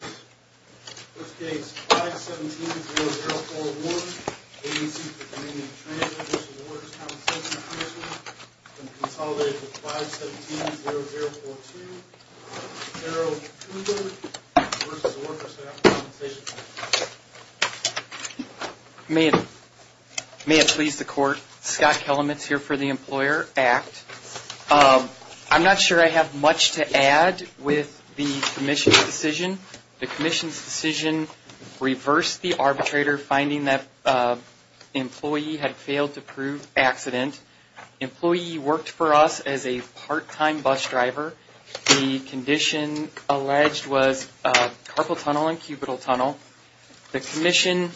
v. Workers' Compensation Commission and consolidated with 517-0042, Cerro Cooper v. Workers' Compensation Commission. May it please the Court, Scott Kellametz here for the Employer Act. I'm not sure I have much to add with the Commission's decision. The Commission's decision reversed the arbitrator finding that the employee had failed to prove accident. The employee worked for us as a part-time bus driver. The condition alleged was carpal tunnel and cubital tunnel. The Commission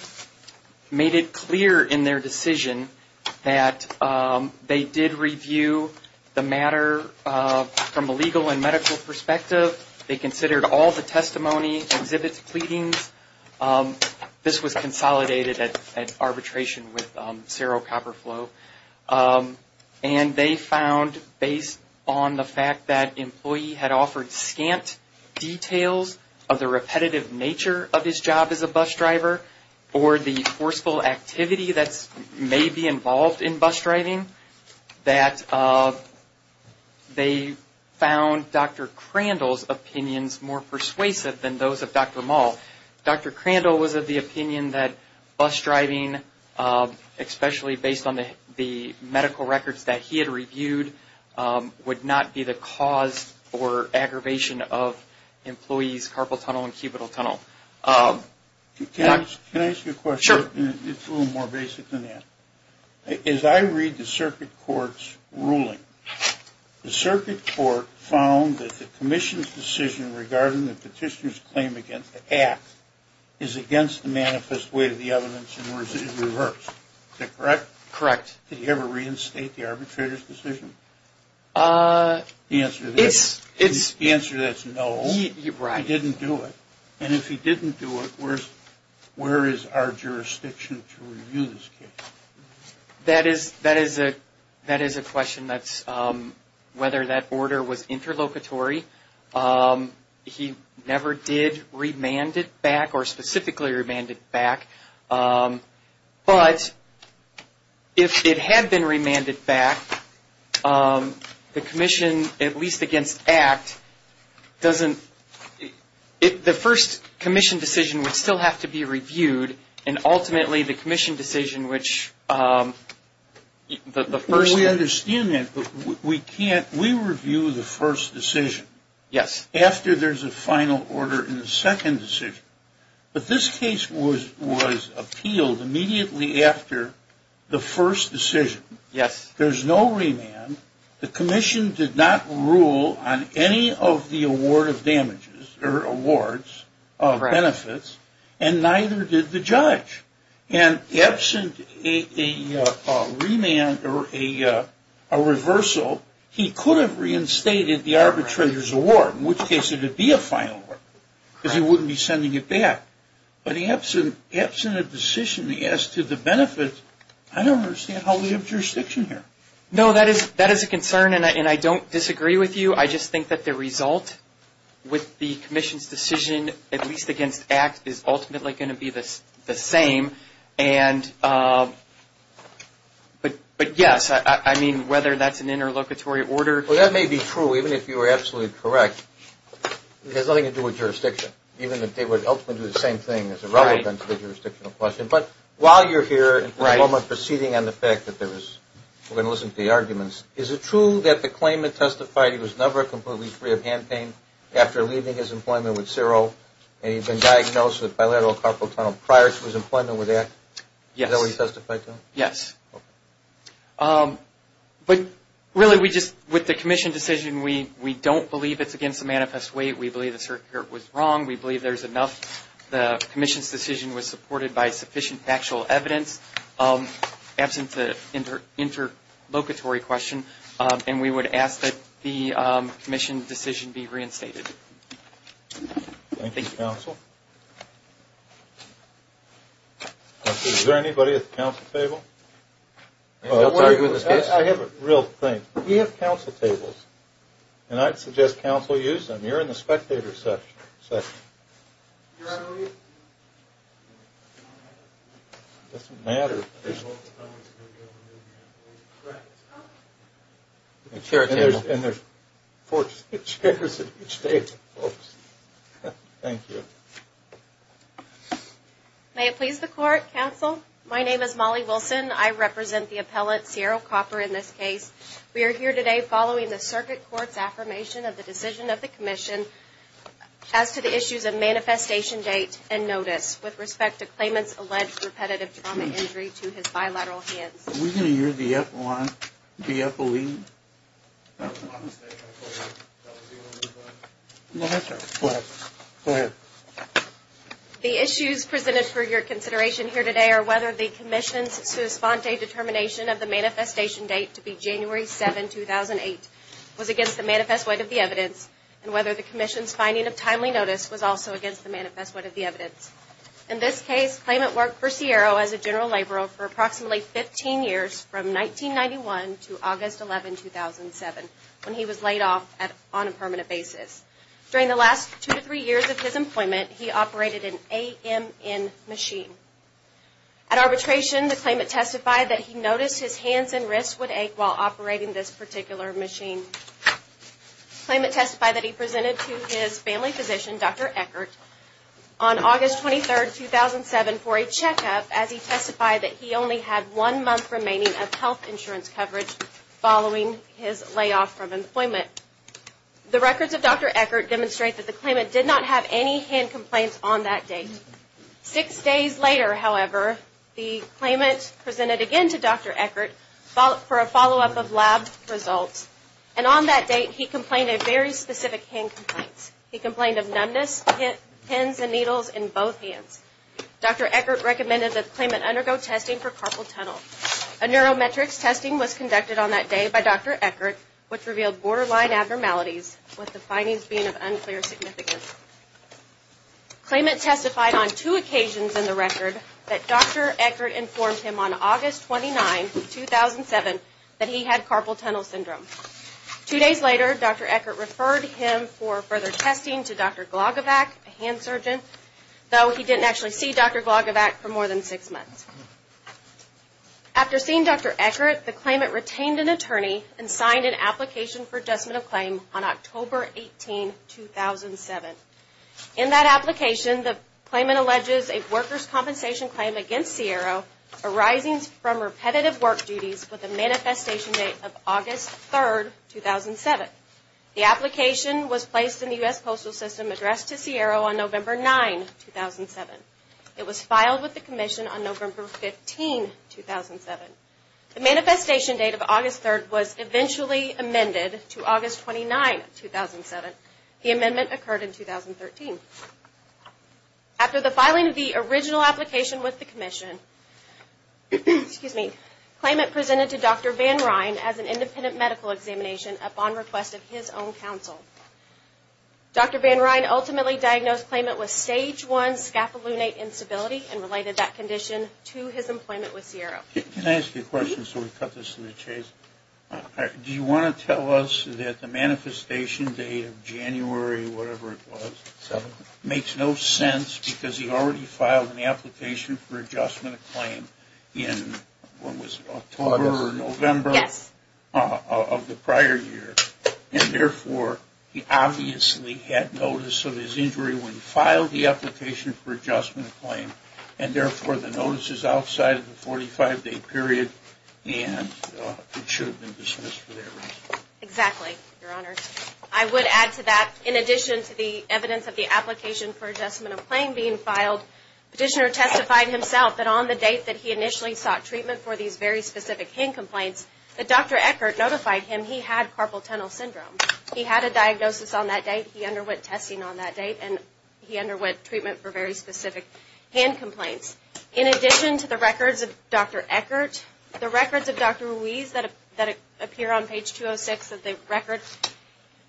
made it clear in their decision that they did review the matter from a legal and medical perspective. They considered all the testimony, exhibits, pleadings. This was consolidated at arbitration with Cerro Copper Flow. And they found based on the fact that the employee had offered scant details of the repetitive nature of his job as a bus driver or the forceful activity that may be involved in bus driving, that they found Dr. Crandall's opinions more persuasive than those of Dr. Maul. Dr. Crandall was of the opinion that bus driving, especially based on the medical records that he had reviewed, would not be the cause for aggravation of employees' carpal tunnel and cubital tunnel. Can I ask you a question? Sure. It's a little more basic than that. As I read the Circuit Court's ruling, the Circuit Court found that the Commission's decision regarding the petitioner's claim against the act is against the manifest weight of the evidence and was reversed. Is that correct? Correct. Did he ever reinstate the arbitrator's decision? The answer to that is no. He didn't do it. And if he didn't do it, where is our jurisdiction to review this case? That is a question that's whether that order was interlocutory. He never did remand it back or specifically remand it back. But if it had been remanded back, the Commission, at least against act, doesn't – the first Commission decision would still have to be reviewed, and ultimately the Commission decision, which the first – We understand that, but we can't – we review the first decision. Yes. After there's a final order in the second decision. But this case was appealed immediately after the first decision. Yes. There's no remand. The Commission did not rule on any of the award of damages or awards of benefits, and neither did the judge. And absent a remand or a reversal, he could have reinstated the arbitrator's award, in which case it would be a final order because he wouldn't be sending it back. But absent a decision as to the benefits, I don't understand how we have jurisdiction here. No, that is a concern, and I don't disagree with you. I just think that the result with the Commission's decision, at least against act, is ultimately going to be the same. But, yes, I mean, whether that's an interlocutory order. Well, that may be true, even if you were absolutely correct. It has nothing to do with jurisdiction, even if they would ultimately do the same thing as irrelevant to the jurisdictional question. But while you're here in this moment proceeding on the fact that there was – we're going to listen to the arguments. Is it true that the claimant testified he was never completely free of hand pain after leaving his employment with CERO, and he'd been diagnosed with bilateral carpal tunnel prior to his employment with ACT? Yes. Is that what he testified to? Yes. Okay. But, really, we just – with the Commission decision, we don't believe it's against the manifest way. We believe the circuit was wrong. We believe there's enough. The Commission's decision was supported by sufficient factual evidence. Absent the interlocutory question, and we would ask that the Commission decision be reinstated. Thank you. Thank you, counsel. Is there anybody at the counsel table? I have a real thing. We have counsel tables, and I'd suggest counsel use them. You're in the spectator section. You're on mute. It doesn't matter. And there's four chairs at each table, folks. Thank you. May it please the court, counsel. My name is Molly Wilson. I represent the appellate CERO Copper in this case. We are here today following the circuit court's affirmation of the decision of the Commission as to the issues of manifestation date and notice with respect to claimant's alleged repetitive trauma injury to his bilateral hands. Are we going to hear the appellee? Go ahead. The issues presented for your consideration here today are whether the Commission's sua sponte determination of the manifestation date to be January 7, 2008, was against the manifest way of the evidence, and whether the Commission's finding of timely notice was also against the manifest way of the evidence. In this case, claimant worked for CERO as a general laborer for approximately 15 years, from 1991 to August 11, 2007, when he was laid off on a permanent basis. During the last two to three years of his employment, he operated an AMN machine. At arbitration, the claimant testified that he noticed his hands and wrists would ache while operating this particular machine. Claimant testified that he presented to his family physician, Dr. Eckert, on August 23, 2007, for a checkup, as he testified that he only had one month remaining of health insurance coverage following his layoff from employment. The records of Dr. Eckert demonstrate that the claimant did not have any hand complaints on that date. Six days later, however, the claimant presented again to Dr. Eckert for a follow-up of lab results, and on that date he complained of very specific hand complaints. He complained of numbness, pins and needles in both hands. Dr. Eckert recommended that the claimant undergo testing for carpal tunnel. A neurometrics testing was conducted on that day by Dr. Eckert, which revealed borderline abnormalities, with the findings being of unclear significance. Claimant testified on two occasions in the record that Dr. Eckert informed him on August 29, 2007, that he had carpal tunnel syndrome. Two days later, Dr. Eckert referred him for further testing to Dr. Glagovac, a hand surgeon, though he didn't actually see Dr. Glagovac for more than six months. After seeing Dr. Eckert, the claimant retained an attorney and signed an application for adjustment of claim on October 18, 2007. In that application, the claimant alleges a workers' compensation claim against Ciero arising from repetitive work duties with a manifestation date of August 3, 2007. The application was placed in the U.S. Postal System Address to Ciero on November 9, 2007. It was filed with the Commission on November 15, 2007. The manifestation date of August 3 was eventually amended to August 29, 2007. The amendment occurred in 2013. After the filing of the original application with the Commission, the claimant presented to Dr. Van Ryn as an independent medical examination upon request of his own counsel. Dr. Van Ryn ultimately diagnosed the claimant with stage 1 scapulonate instability and related that condition to his employment with Ciero. Can I ask you a question so we cut this in the chase? Do you want to tell us that the manifestation date of January, whatever it was, makes no sense because he already filed an application for adjustment of claim in, what was it, October or November of the prior year? And therefore, he obviously had notice of his injury when he filed the application for adjustment of claim and therefore the notice is outside of the 45-day period and it should have been dismissed for that reason. Exactly, Your Honor. I would add to that, in addition to the evidence of the application for adjustment of claim being filed, Petitioner testified himself that on the date that he initially sought treatment for these very specific hand complaints, that Dr. Eckert notified him he had carpal tunnel syndrome. He had a diagnosis on that date, he underwent testing on that date, and he underwent treatment for very specific hand complaints. In addition to the records of Dr. Eckert, the records of Dr. Ruiz that appear on page 206 of the record,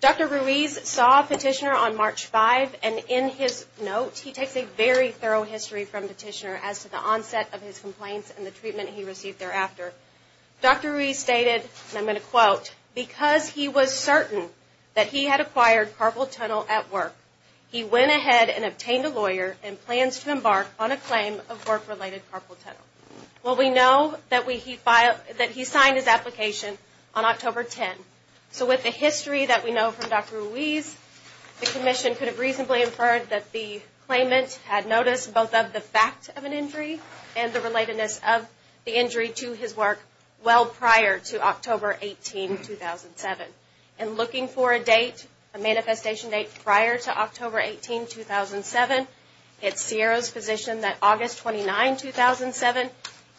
Dr. Ruiz saw Petitioner on March 5 and in his note, he takes a very thorough history from Petitioner as to the onset of his complaints and the treatment he received thereafter. Dr. Ruiz stated, and I'm going to quote, because he was certain that he had acquired carpal tunnel at work, he went ahead and obtained a lawyer and plans to embark on a claim of work-related carpal tunnel. Well, we know that he signed his application on October 10, so with the history that we know from Dr. Ruiz, the Commission could have reasonably inferred that the claimant had noticed both of the fact of an injury and the relatedness of the injury to his work well prior to October 18, 2007. And looking for a date, a manifestation date prior to October 18, 2007, it's CIRA's position that August 29, 2007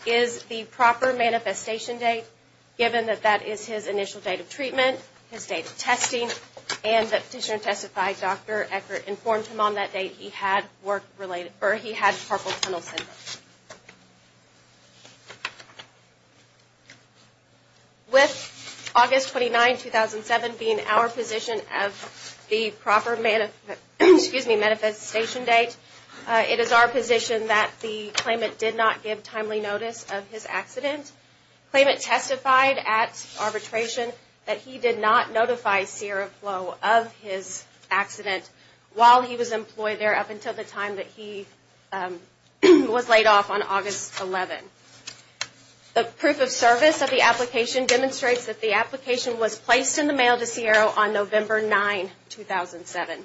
is the proper manifestation date, given that that is his initial date of treatment, his date of testing, and that Petitioner testified Dr. Eckert informed him on that date he had carpal tunnel syndrome. With August 29, 2007 being our position of the proper manifestation date, it is our position that the claimant did not give timely notice of his accident. The claimant testified at arbitration that he did not notify CIRA Flow of his accident while he was employed there up until the time that he was laid off on August 11. The proof of service of the application demonstrates that the application was placed in the mail to CIRA on November 9, 2007.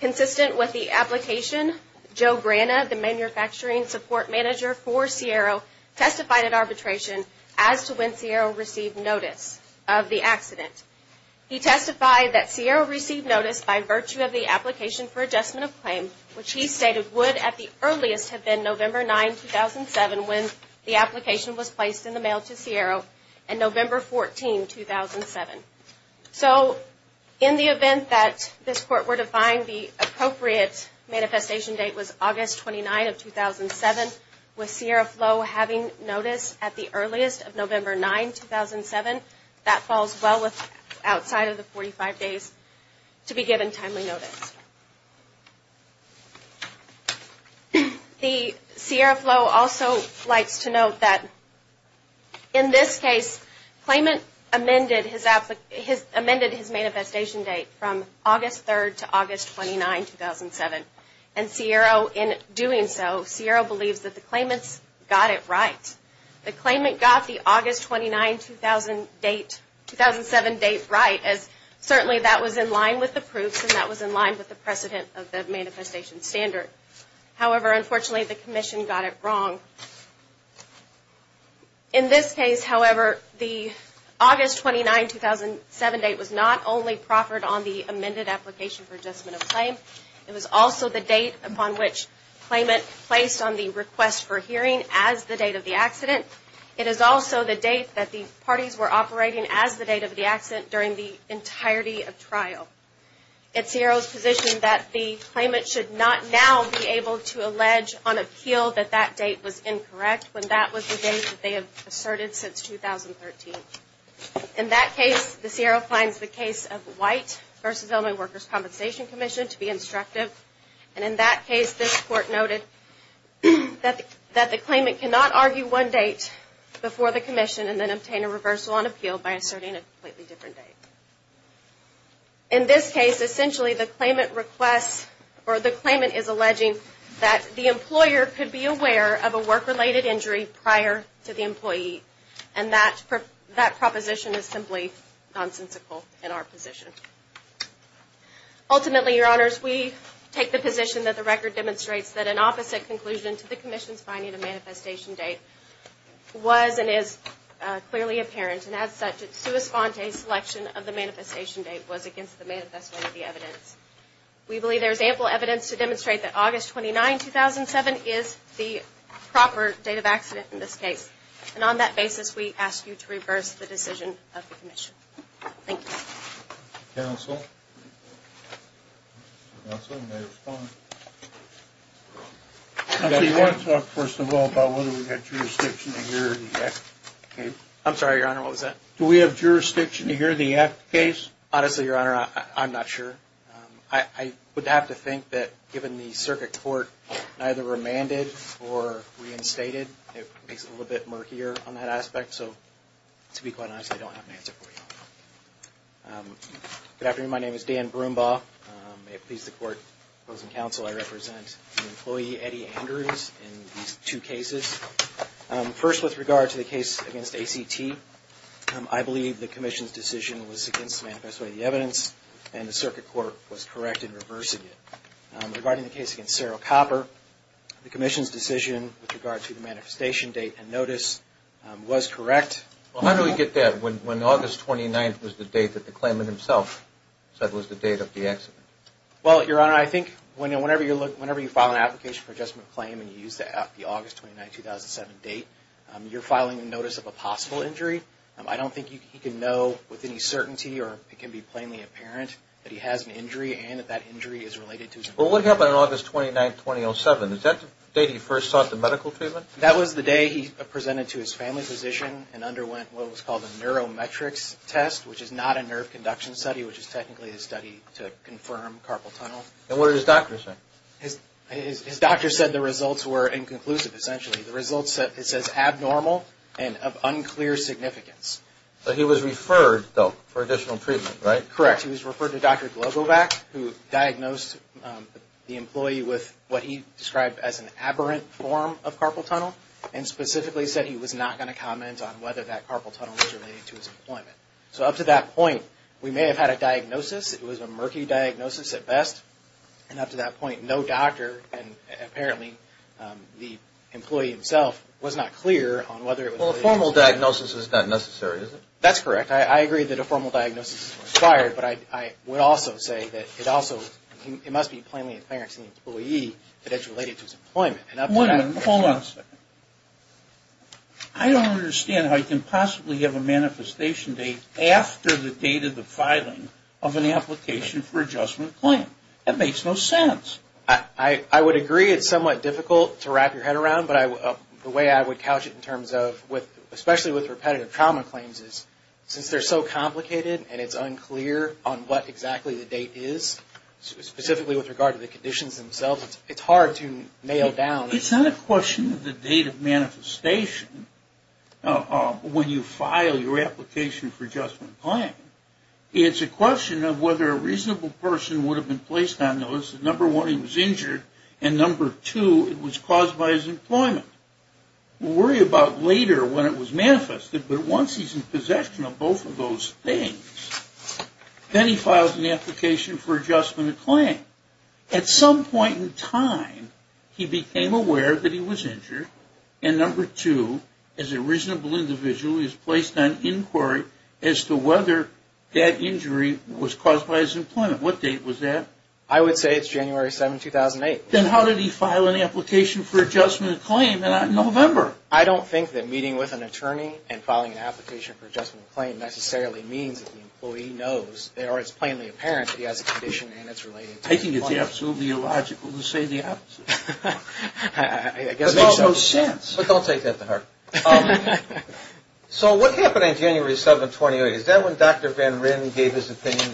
Consistent with the application, Joe Grana, the manufacturing support manager for CIRA, testified at arbitration as to when CIRA received notice of the accident. He testified that CIRA received notice by virtue of the application for adjustment of claim, which he stated would at the earliest have been November 9, 2007, when the application was placed in the mail to CIRA, and November 14, 2007. So, in the event that this Court were to find the appropriate manifestation date was August 29, 2007, with CIRA Flow having notice at the earliest of November 9, 2007, that falls well outside of the 45 days to be given timely notice. CIRA Flow also likes to note that in this case, the claimant amended his manifestation date from August 3 to August 29, 2007. And CIRA, in doing so, CIRA believes that the claimants got it right. The claimant got the August 29, 2007 date right, as certainly that was in line with the proofs and that was in line with the precedent of the manifestation standard. However, unfortunately, the Commission got it wrong. In this case, however, the August 29, 2007 date was not only proffered on the amended application for adjustment of claim, it was also the date upon which claimant placed on the request for hearing as the date of the accident. It is also the date that the parties were operating as the date of the accident during the entirety of trial. It's CIRA's position that the claimant should not now be able to allege on appeal that that date was incorrect when that was the date that they have asserted since 2013. In that case, the CIRA finds the case of White v. Illinois Workers' Compensation Commission to be instructive. And in that case, this Court noted that the claimant cannot argue one date before the Commission and then obtain a reversal on appeal by asserting a completely different date. In this case, essentially the claimant requests or the claimant is alleging that the employer could be aware of a work-related injury prior to the employee. And that proposition is simply nonsensical in our position. Ultimately, Your Honors, we take the position that the record demonstrates that an opposite conclusion to the Commission's finding of the manifestation date was and is clearly apparent. And as such, it's sui sponte selection of the manifestation date was against the manifestation of the evidence. We believe there is ample evidence to demonstrate that August 29, 2007 is the proper date of accident in this case. And on that basis, we ask you to reverse the decision of the Commission. Thank you. Counsel? Counsel, you may respond. Counsel, you want to talk first of all about whether we have jurisdiction to hear the F case? I'm sorry, Your Honor, what was that? Do we have jurisdiction to hear the F case? Honestly, Your Honor, I'm not sure. I would have to think that given the circuit court neither remanded or reinstated, it makes it a little bit murkier on that aspect. So, to be quite honest, I don't have an answer for you. Good afternoon. My name is Dan Broombaugh. May it please the Court, those in counsel, I represent the employee, Eddie Andrews, in these two cases. First, with regard to the case against ACT, I believe the Commission's decision was against the manifestation of the evidence, and the circuit court was correct in reversing it. Regarding the case against Cerro Copper, the Commission's decision with regard to the manifestation date and notice was correct. Well, how do we get that when August 29 was the date that the claimant himself said was the date of the accident? Well, Your Honor, I think whenever you file an application for an adjustment claim and you use the August 29, 2007 date, you're filing a notice of a possible injury. I don't think he can know with any certainty or it can be plainly apparent that he has an injury and that that injury is related to his injury. Well, what happened on August 29, 2007? Is that the date he first sought the medical treatment? That was the day he presented to his family physician and underwent what was called a neurometrics test, which is not a nerve conduction study, which is technically a study to confirm carpal tunnel. And what did his doctor say? His doctor said the results were inconclusive, essentially. The results, it says abnormal and of unclear significance. But he was referred, though, for additional treatment, right? Correct. He was referred to Dr. Globovac, who diagnosed the employee with what he described as an aberrant form of carpal tunnel and specifically said he was not going to comment on whether that carpal tunnel was related to his employment. So up to that point, we may have had a diagnosis. It was a murky diagnosis at best. And up to that point, no doctor and apparently the employee himself was not clear on whether it was related to his employment. Well, a formal diagnosis is not necessary, is it? That's correct. I agree that a formal diagnosis is required, but I would also say that it must be plainly apparent to the employee that it's related to his employment. Hold on a second. I don't understand how you can possibly have a manifestation date after the date of the filing of an application for adjustment claim. That makes no sense. I would agree it's somewhat difficult to wrap your head around, but the way I would couch it in terms of, especially with repetitive trauma claims, is since they're so complicated and it's unclear on what exactly the date is, specifically with regard to the conditions themselves, it's hard to nail down. It's not a question of the date of manifestation when you file your application for adjustment claim. It's a question of whether a reasonable person would have been placed on those. Number one, he was injured, and number two, it was caused by his employment. We'll worry about later when it was manifested, but once he's in possession of both of those things, then he files an application for adjustment claim. At some point in time, he became aware that he was injured, and number two, as a reasonable individual, he was placed on inquiry as to whether that injury was caused by his employment. What date was that? I would say it's January 7, 2008. Then how did he file an application for adjustment claim in November? I don't think that meeting with an attorney and filing an application for adjustment claim necessarily means that the employee knows or it's plainly apparent that he has a condition and it's related to employment. I think it's absolutely illogical to say the opposite. I guess it makes no sense. But don't take that to heart. So what happened on January 7, 2008? Is that when Dr. Van Ryn gave his opinion?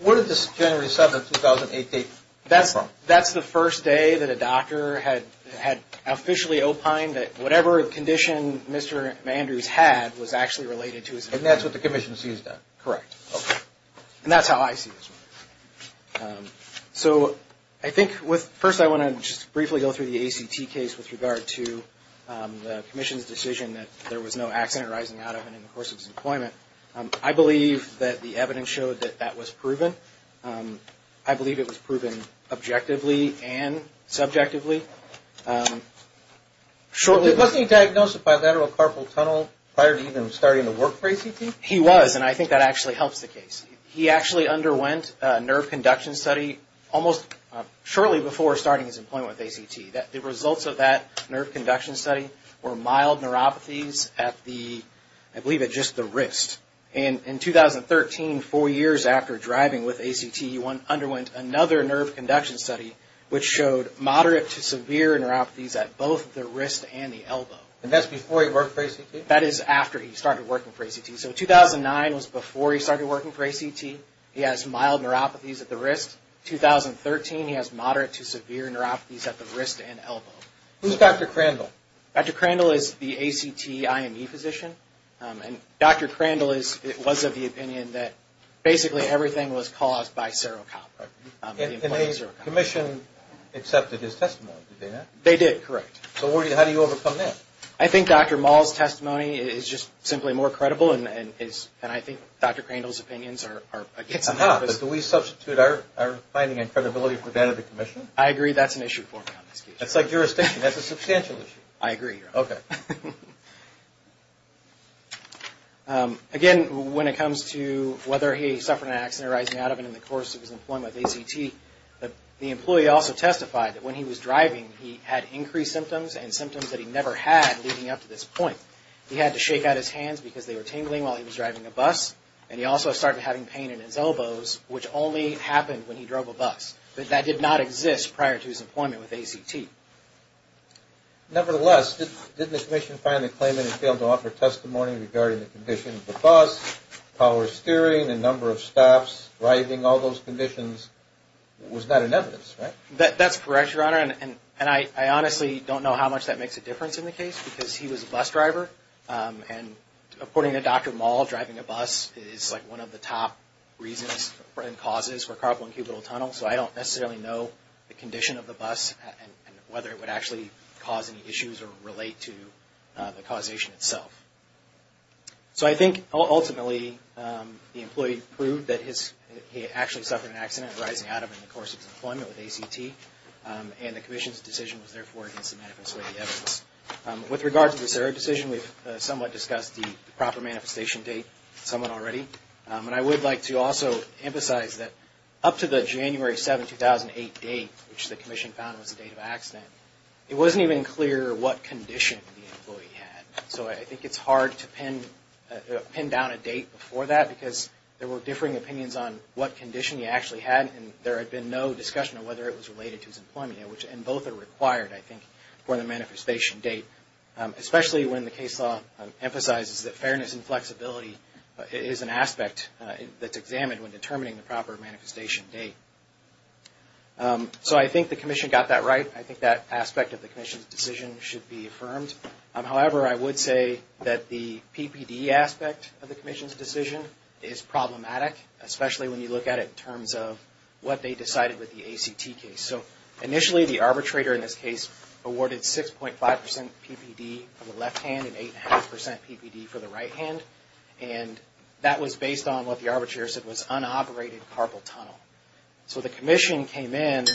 Where did this January 7, 2008 date come from? That's the first day that a doctor had officially opined that whatever condition Mr. Andrews had was actually related to his employment. And that's what the commission sees done? Correct. Okay. And that's how I see this one. So I think first I want to just briefly go through the ACT case with regard to the commission's decision that there was no accident arising out of and in the course of his employment. I believe that the evidence showed that that was proven. I believe it was proven objectively and subjectively. Wasn't he diagnosed with bilateral carpal tunnel prior to even starting to work for ACT? He was. And I think that actually helps the case. He actually underwent a nerve conduction study almost shortly before starting his employment with ACT. The results of that nerve conduction study were mild neuropathies at the, I believe at just the wrist. And in 2013, four years after driving with ACT, he underwent another nerve conduction study, which showed moderate to severe neuropathies at both the wrist and the elbow. And that's before he worked for ACT? That is after he started working for ACT. So 2009 was before he started working for ACT. He has mild neuropathies at the wrist. 2013, he has moderate to severe neuropathies at the wrist and elbow. Who's Dr. Crandall? Dr. Crandall is the ACT IME physician. And Dr. Crandall was of the opinion that basically everything was caused by serocon. And the commission accepted his testimony, did they not? They did, correct. So how do you overcome that? I think Dr. Mall's testimony is just simply more credible. And I think Dr. Crandall's opinions are against him. But do we substitute our finding and credibility for that of the commission? I agree. That's an issue for me on this case. That's like jurisdiction. That's a substantial issue. I agree. Okay. Again, when it comes to whether he suffered an accident or rising out of it in the course of his employment with ACT, the employee also testified that when he was driving, he had increased symptoms and symptoms that he never had leading up to this point. He had to shake out his hands because they were tingling while he was driving a bus. And he also started having pain in his elbows, which only happened when he drove a bus. That did not exist prior to his employment with ACT. Nevertheless, didn't the commission finally claim that he failed to offer testimony regarding the condition of the bus, power steering, the number of stops, driving, all those conditions? It was not in evidence, right? That's correct, Your Honor. And I honestly don't know how much that makes a difference in the case because he was a bus driver. And according to Dr. Mall, driving a bus is like one of the top reasons and causes for carpal and cubital tunnel. So I don't necessarily know the condition of the bus and whether it would actually cause any issues or relate to the causation itself. So I think, ultimately, the employee proved that he actually suffered an accident or rising out of it in the course of his employment with ACT. And the commission's decision was therefore against the manifesto of the evidence. With regard to this error decision, we've somewhat discussed the proper manifestation date somewhat already. And I would like to also emphasize that up to the January 7, 2008 date, which the commission found was the date of accident, it wasn't even clear what condition the employee had. So I think it's hard to pin down a date before that because there were differing opinions on what condition he actually had and there had been no discussion of whether it was related to his employment. And both are required, I think, for the manifestation date, especially when the case law emphasizes that fairness and flexibility is an aspect that's examined when determining the proper manifestation date. So I think the commission got that right. I think that aspect of the commission's decision should be affirmed. However, I would say that the PPD aspect of the commission's decision is problematic, especially when you look at it in terms of what they decided with the ACT case. So initially, the arbitrator in this case awarded 6.5% PPD for the left hand and 8.5% PPD for the right hand. And that was based on what the arbitrator said was unoperated carpal tunnel. So the commission came in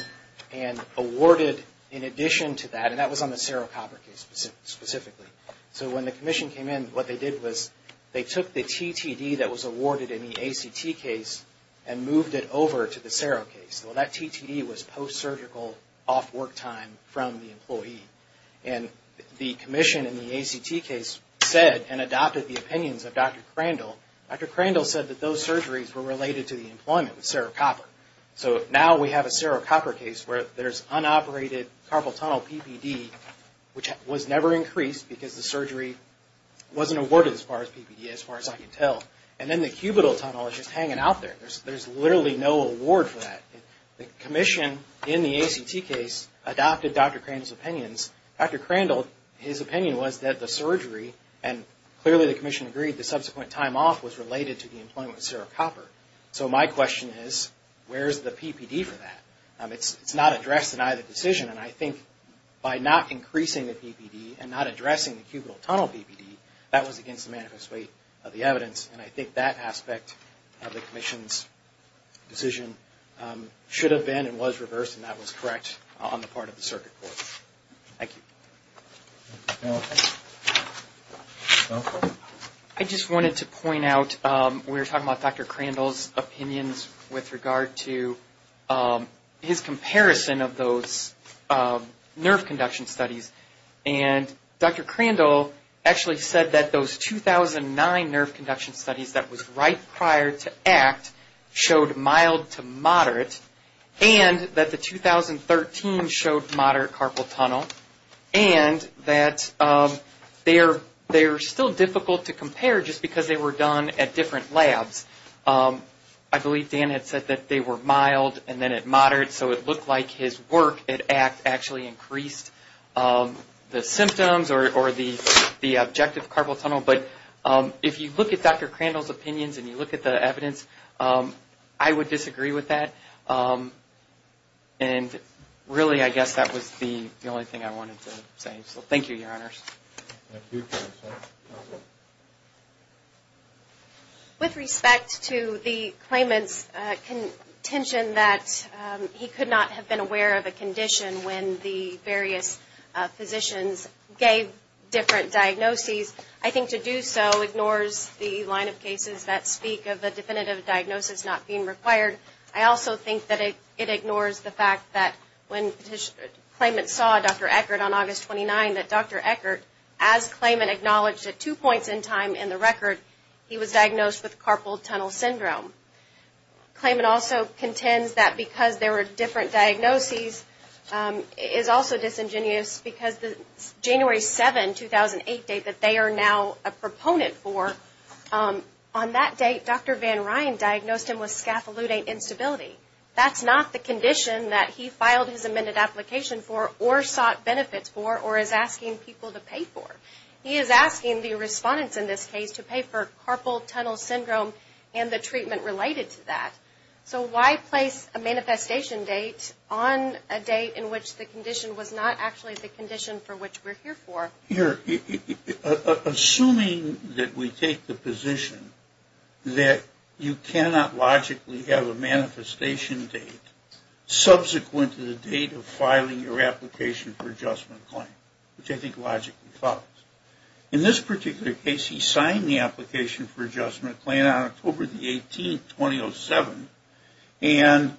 and awarded in addition to that, and that was on the serocopper case specifically. So when the commission came in, what they did was they took the TTD that was awarded in the ACT case and moved it over to the serocase. Well, that TTD was post-surgical off work time from the employee. And the commission in the ACT case said and adopted the opinions of Dr. Crandall. Dr. Crandall said that those surgeries were related to the employment with serocopper. So now we have a serocopper case where there's unoperated carpal tunnel PPD, which was never increased because the surgery wasn't awarded as far as PPD, as far as I can tell. And then the cubital tunnel is just hanging out there. There's literally no award for that. The commission in the ACT case adopted Dr. Crandall's opinions. Dr. Crandall, his opinion was that the surgery, and clearly the commission agreed the subsequent time off was related to the employment with serocopper. So my question is, where's the PPD for that? It's not addressed in either decision. And I think by not increasing the PPD and not addressing the cubital tunnel PPD, that was against the manifest weight of the evidence. And I think that aspect of the commission's decision should have been and was reversed and that was correct on the part of the circuit court. Thank you. I just wanted to point out, we were talking about Dr. Crandall's opinions with regard to his comparison of those nerve conduction studies. And Dr. Crandall actually said that those 2009 nerve conduction studies that was right prior to ACT showed mild to moderate, and that the 2013 showed moderate carpal tunnel, and that they're still difficult to compare just because they were done at different labs. I believe Dan had said that they were mild and then at moderate, so it looked like his work at ACT actually increased the symptoms or the objective carpal tunnel. But if you look at Dr. Crandall's opinions and you look at the evidence, I would disagree with that. And really, I guess that was the only thing I wanted to say. So thank you, Your Honors. With respect to the claimant's contention that he could not have been aware of a condition when the various physicians gave different diagnoses, I think to do so ignores the line of cases that speak of a definitive diagnosis not being required. I also think that it ignores the fact that when claimants saw Dr. Eckert on August 29, that Dr. Eckert, as claimant acknowledged at two points in time in the record, he was diagnosed with carpal tunnel syndrome. Claimant also contends that because there were different diagnoses is also disingenuous because the January 7, 2008 date that they are now a proponent for, on that date, Dr. Van Ryan diagnosed him with scaffolding instability. That's not the condition that he filed his amended application for or sought benefits for or is asking people to pay for. He is asking the respondents in this case to pay for carpal tunnel syndrome and the treatment related to that. So why place a manifestation date on a date in which the condition was not actually the condition for which we're here for? Assuming that we take the position that you cannot logically have a manifestation date subsequent to the date of filing your application for adjustment claim, which I think logically follows. In this particular case, he signed the application for adjustment claim on October 18, 2007, and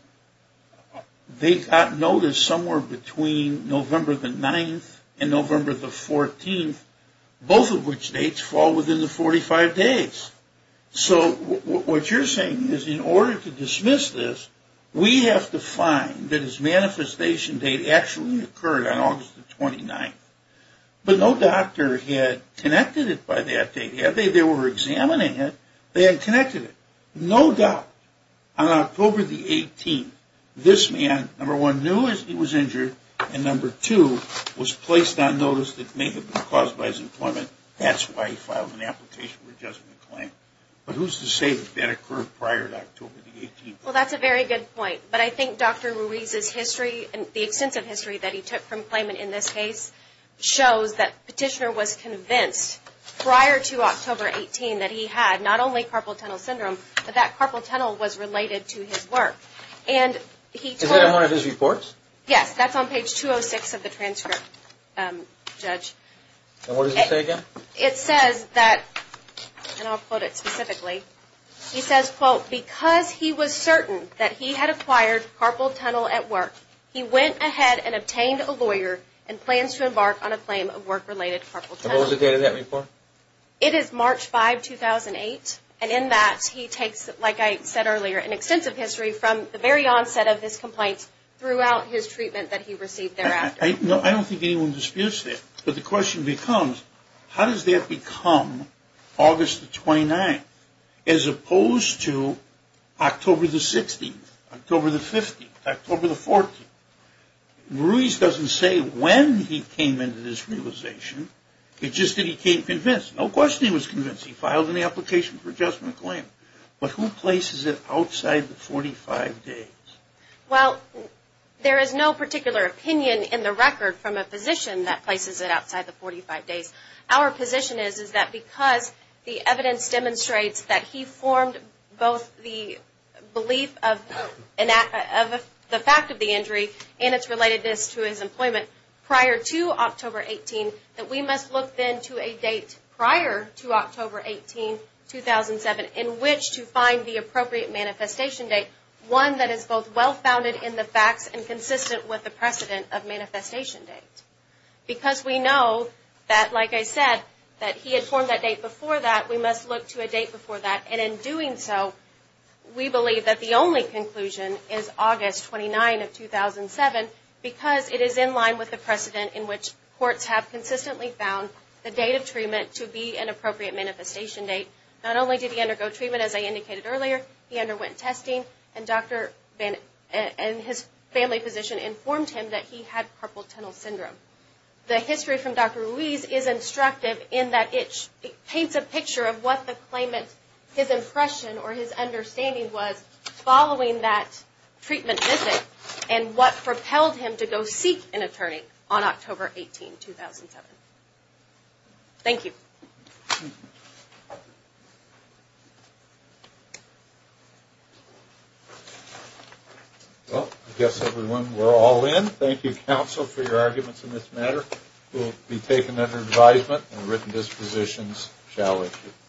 they got notice somewhere between November the 9th and November the 14th, both of which dates fall within the 45 days. So what you're saying is in order to dismiss this, we have to find that his manifestation date actually occurred on August the 29th, but no doctor had connected it by that date. They were examining it. They had connected it, no doubt. On October the 18th, this man, number one, knew he was injured, and number two, was placed on notice that may have been caused by his employment. That's why he filed an application for adjustment claim. But who's to say that that occurred prior to October the 18th? Well, that's a very good point, but I think Dr. Ruiz's history and the extensive history that he took from claimant in this case shows that the petitioner was convinced prior to October 18 that he had not only Carpal Tunnel Syndrome, but that Carpal Tunnel was related to his work. Is that in one of his reports? Yes, that's on page 206 of the transcript, Judge. And what does it say again? It says that, and I'll quote it specifically, he says, quote, because he was certain that he had acquired Carpal Tunnel at work, he went ahead and obtained a lawyer and plans to embark on a claim of work-related Carpal Tunnel. And what was the date of that report? It is March 5, 2008, and in that he takes, like I said earlier, an extensive history from the very onset of his complaints throughout his treatment that he received thereafter. I don't think anyone disputes that, but the question becomes, how does that become August the 29th as opposed to October the 16th, October the 15th, October the 14th? Ruiz doesn't say when he came into this realization. It's just that he came convinced. No question he was convinced. He filed an application for adjustment claim. But who places it outside the 45 days? Well, there is no particular opinion in the record from a physician that places it outside the 45 days. Our position is that because the evidence demonstrates that he formed both the belief of the fact of the injury and its relatedness to his employment prior to October 18, that we must look then to a date prior to October 18, 2007, in which to find the appropriate manifestation date, one that is both well-founded in the facts and consistent with the precedent of manifestation date. Because we know that, like I said, that he had formed that date before that, we must look to a date before that. And in doing so, we believe that the only conclusion is August 29 of 2007 because it is in line with the precedent in which courts have consistently found the date of treatment to be an appropriate manifestation date. Not only did he undergo treatment, as I indicated earlier, he underwent testing, and his family physician informed him that he had carpal tunnel syndrome. The history from Dr. Ruiz is instructive in that it paints a picture of what the claimant, his impression or his understanding was following that treatment visit and what propelled him to go seek an attorney on October 18, 2007. Thank you. Well, I guess everyone, we're all in. Thank you, counsel, for your arguments in this matter. It will be taken under advisement and written dispositions shall issue.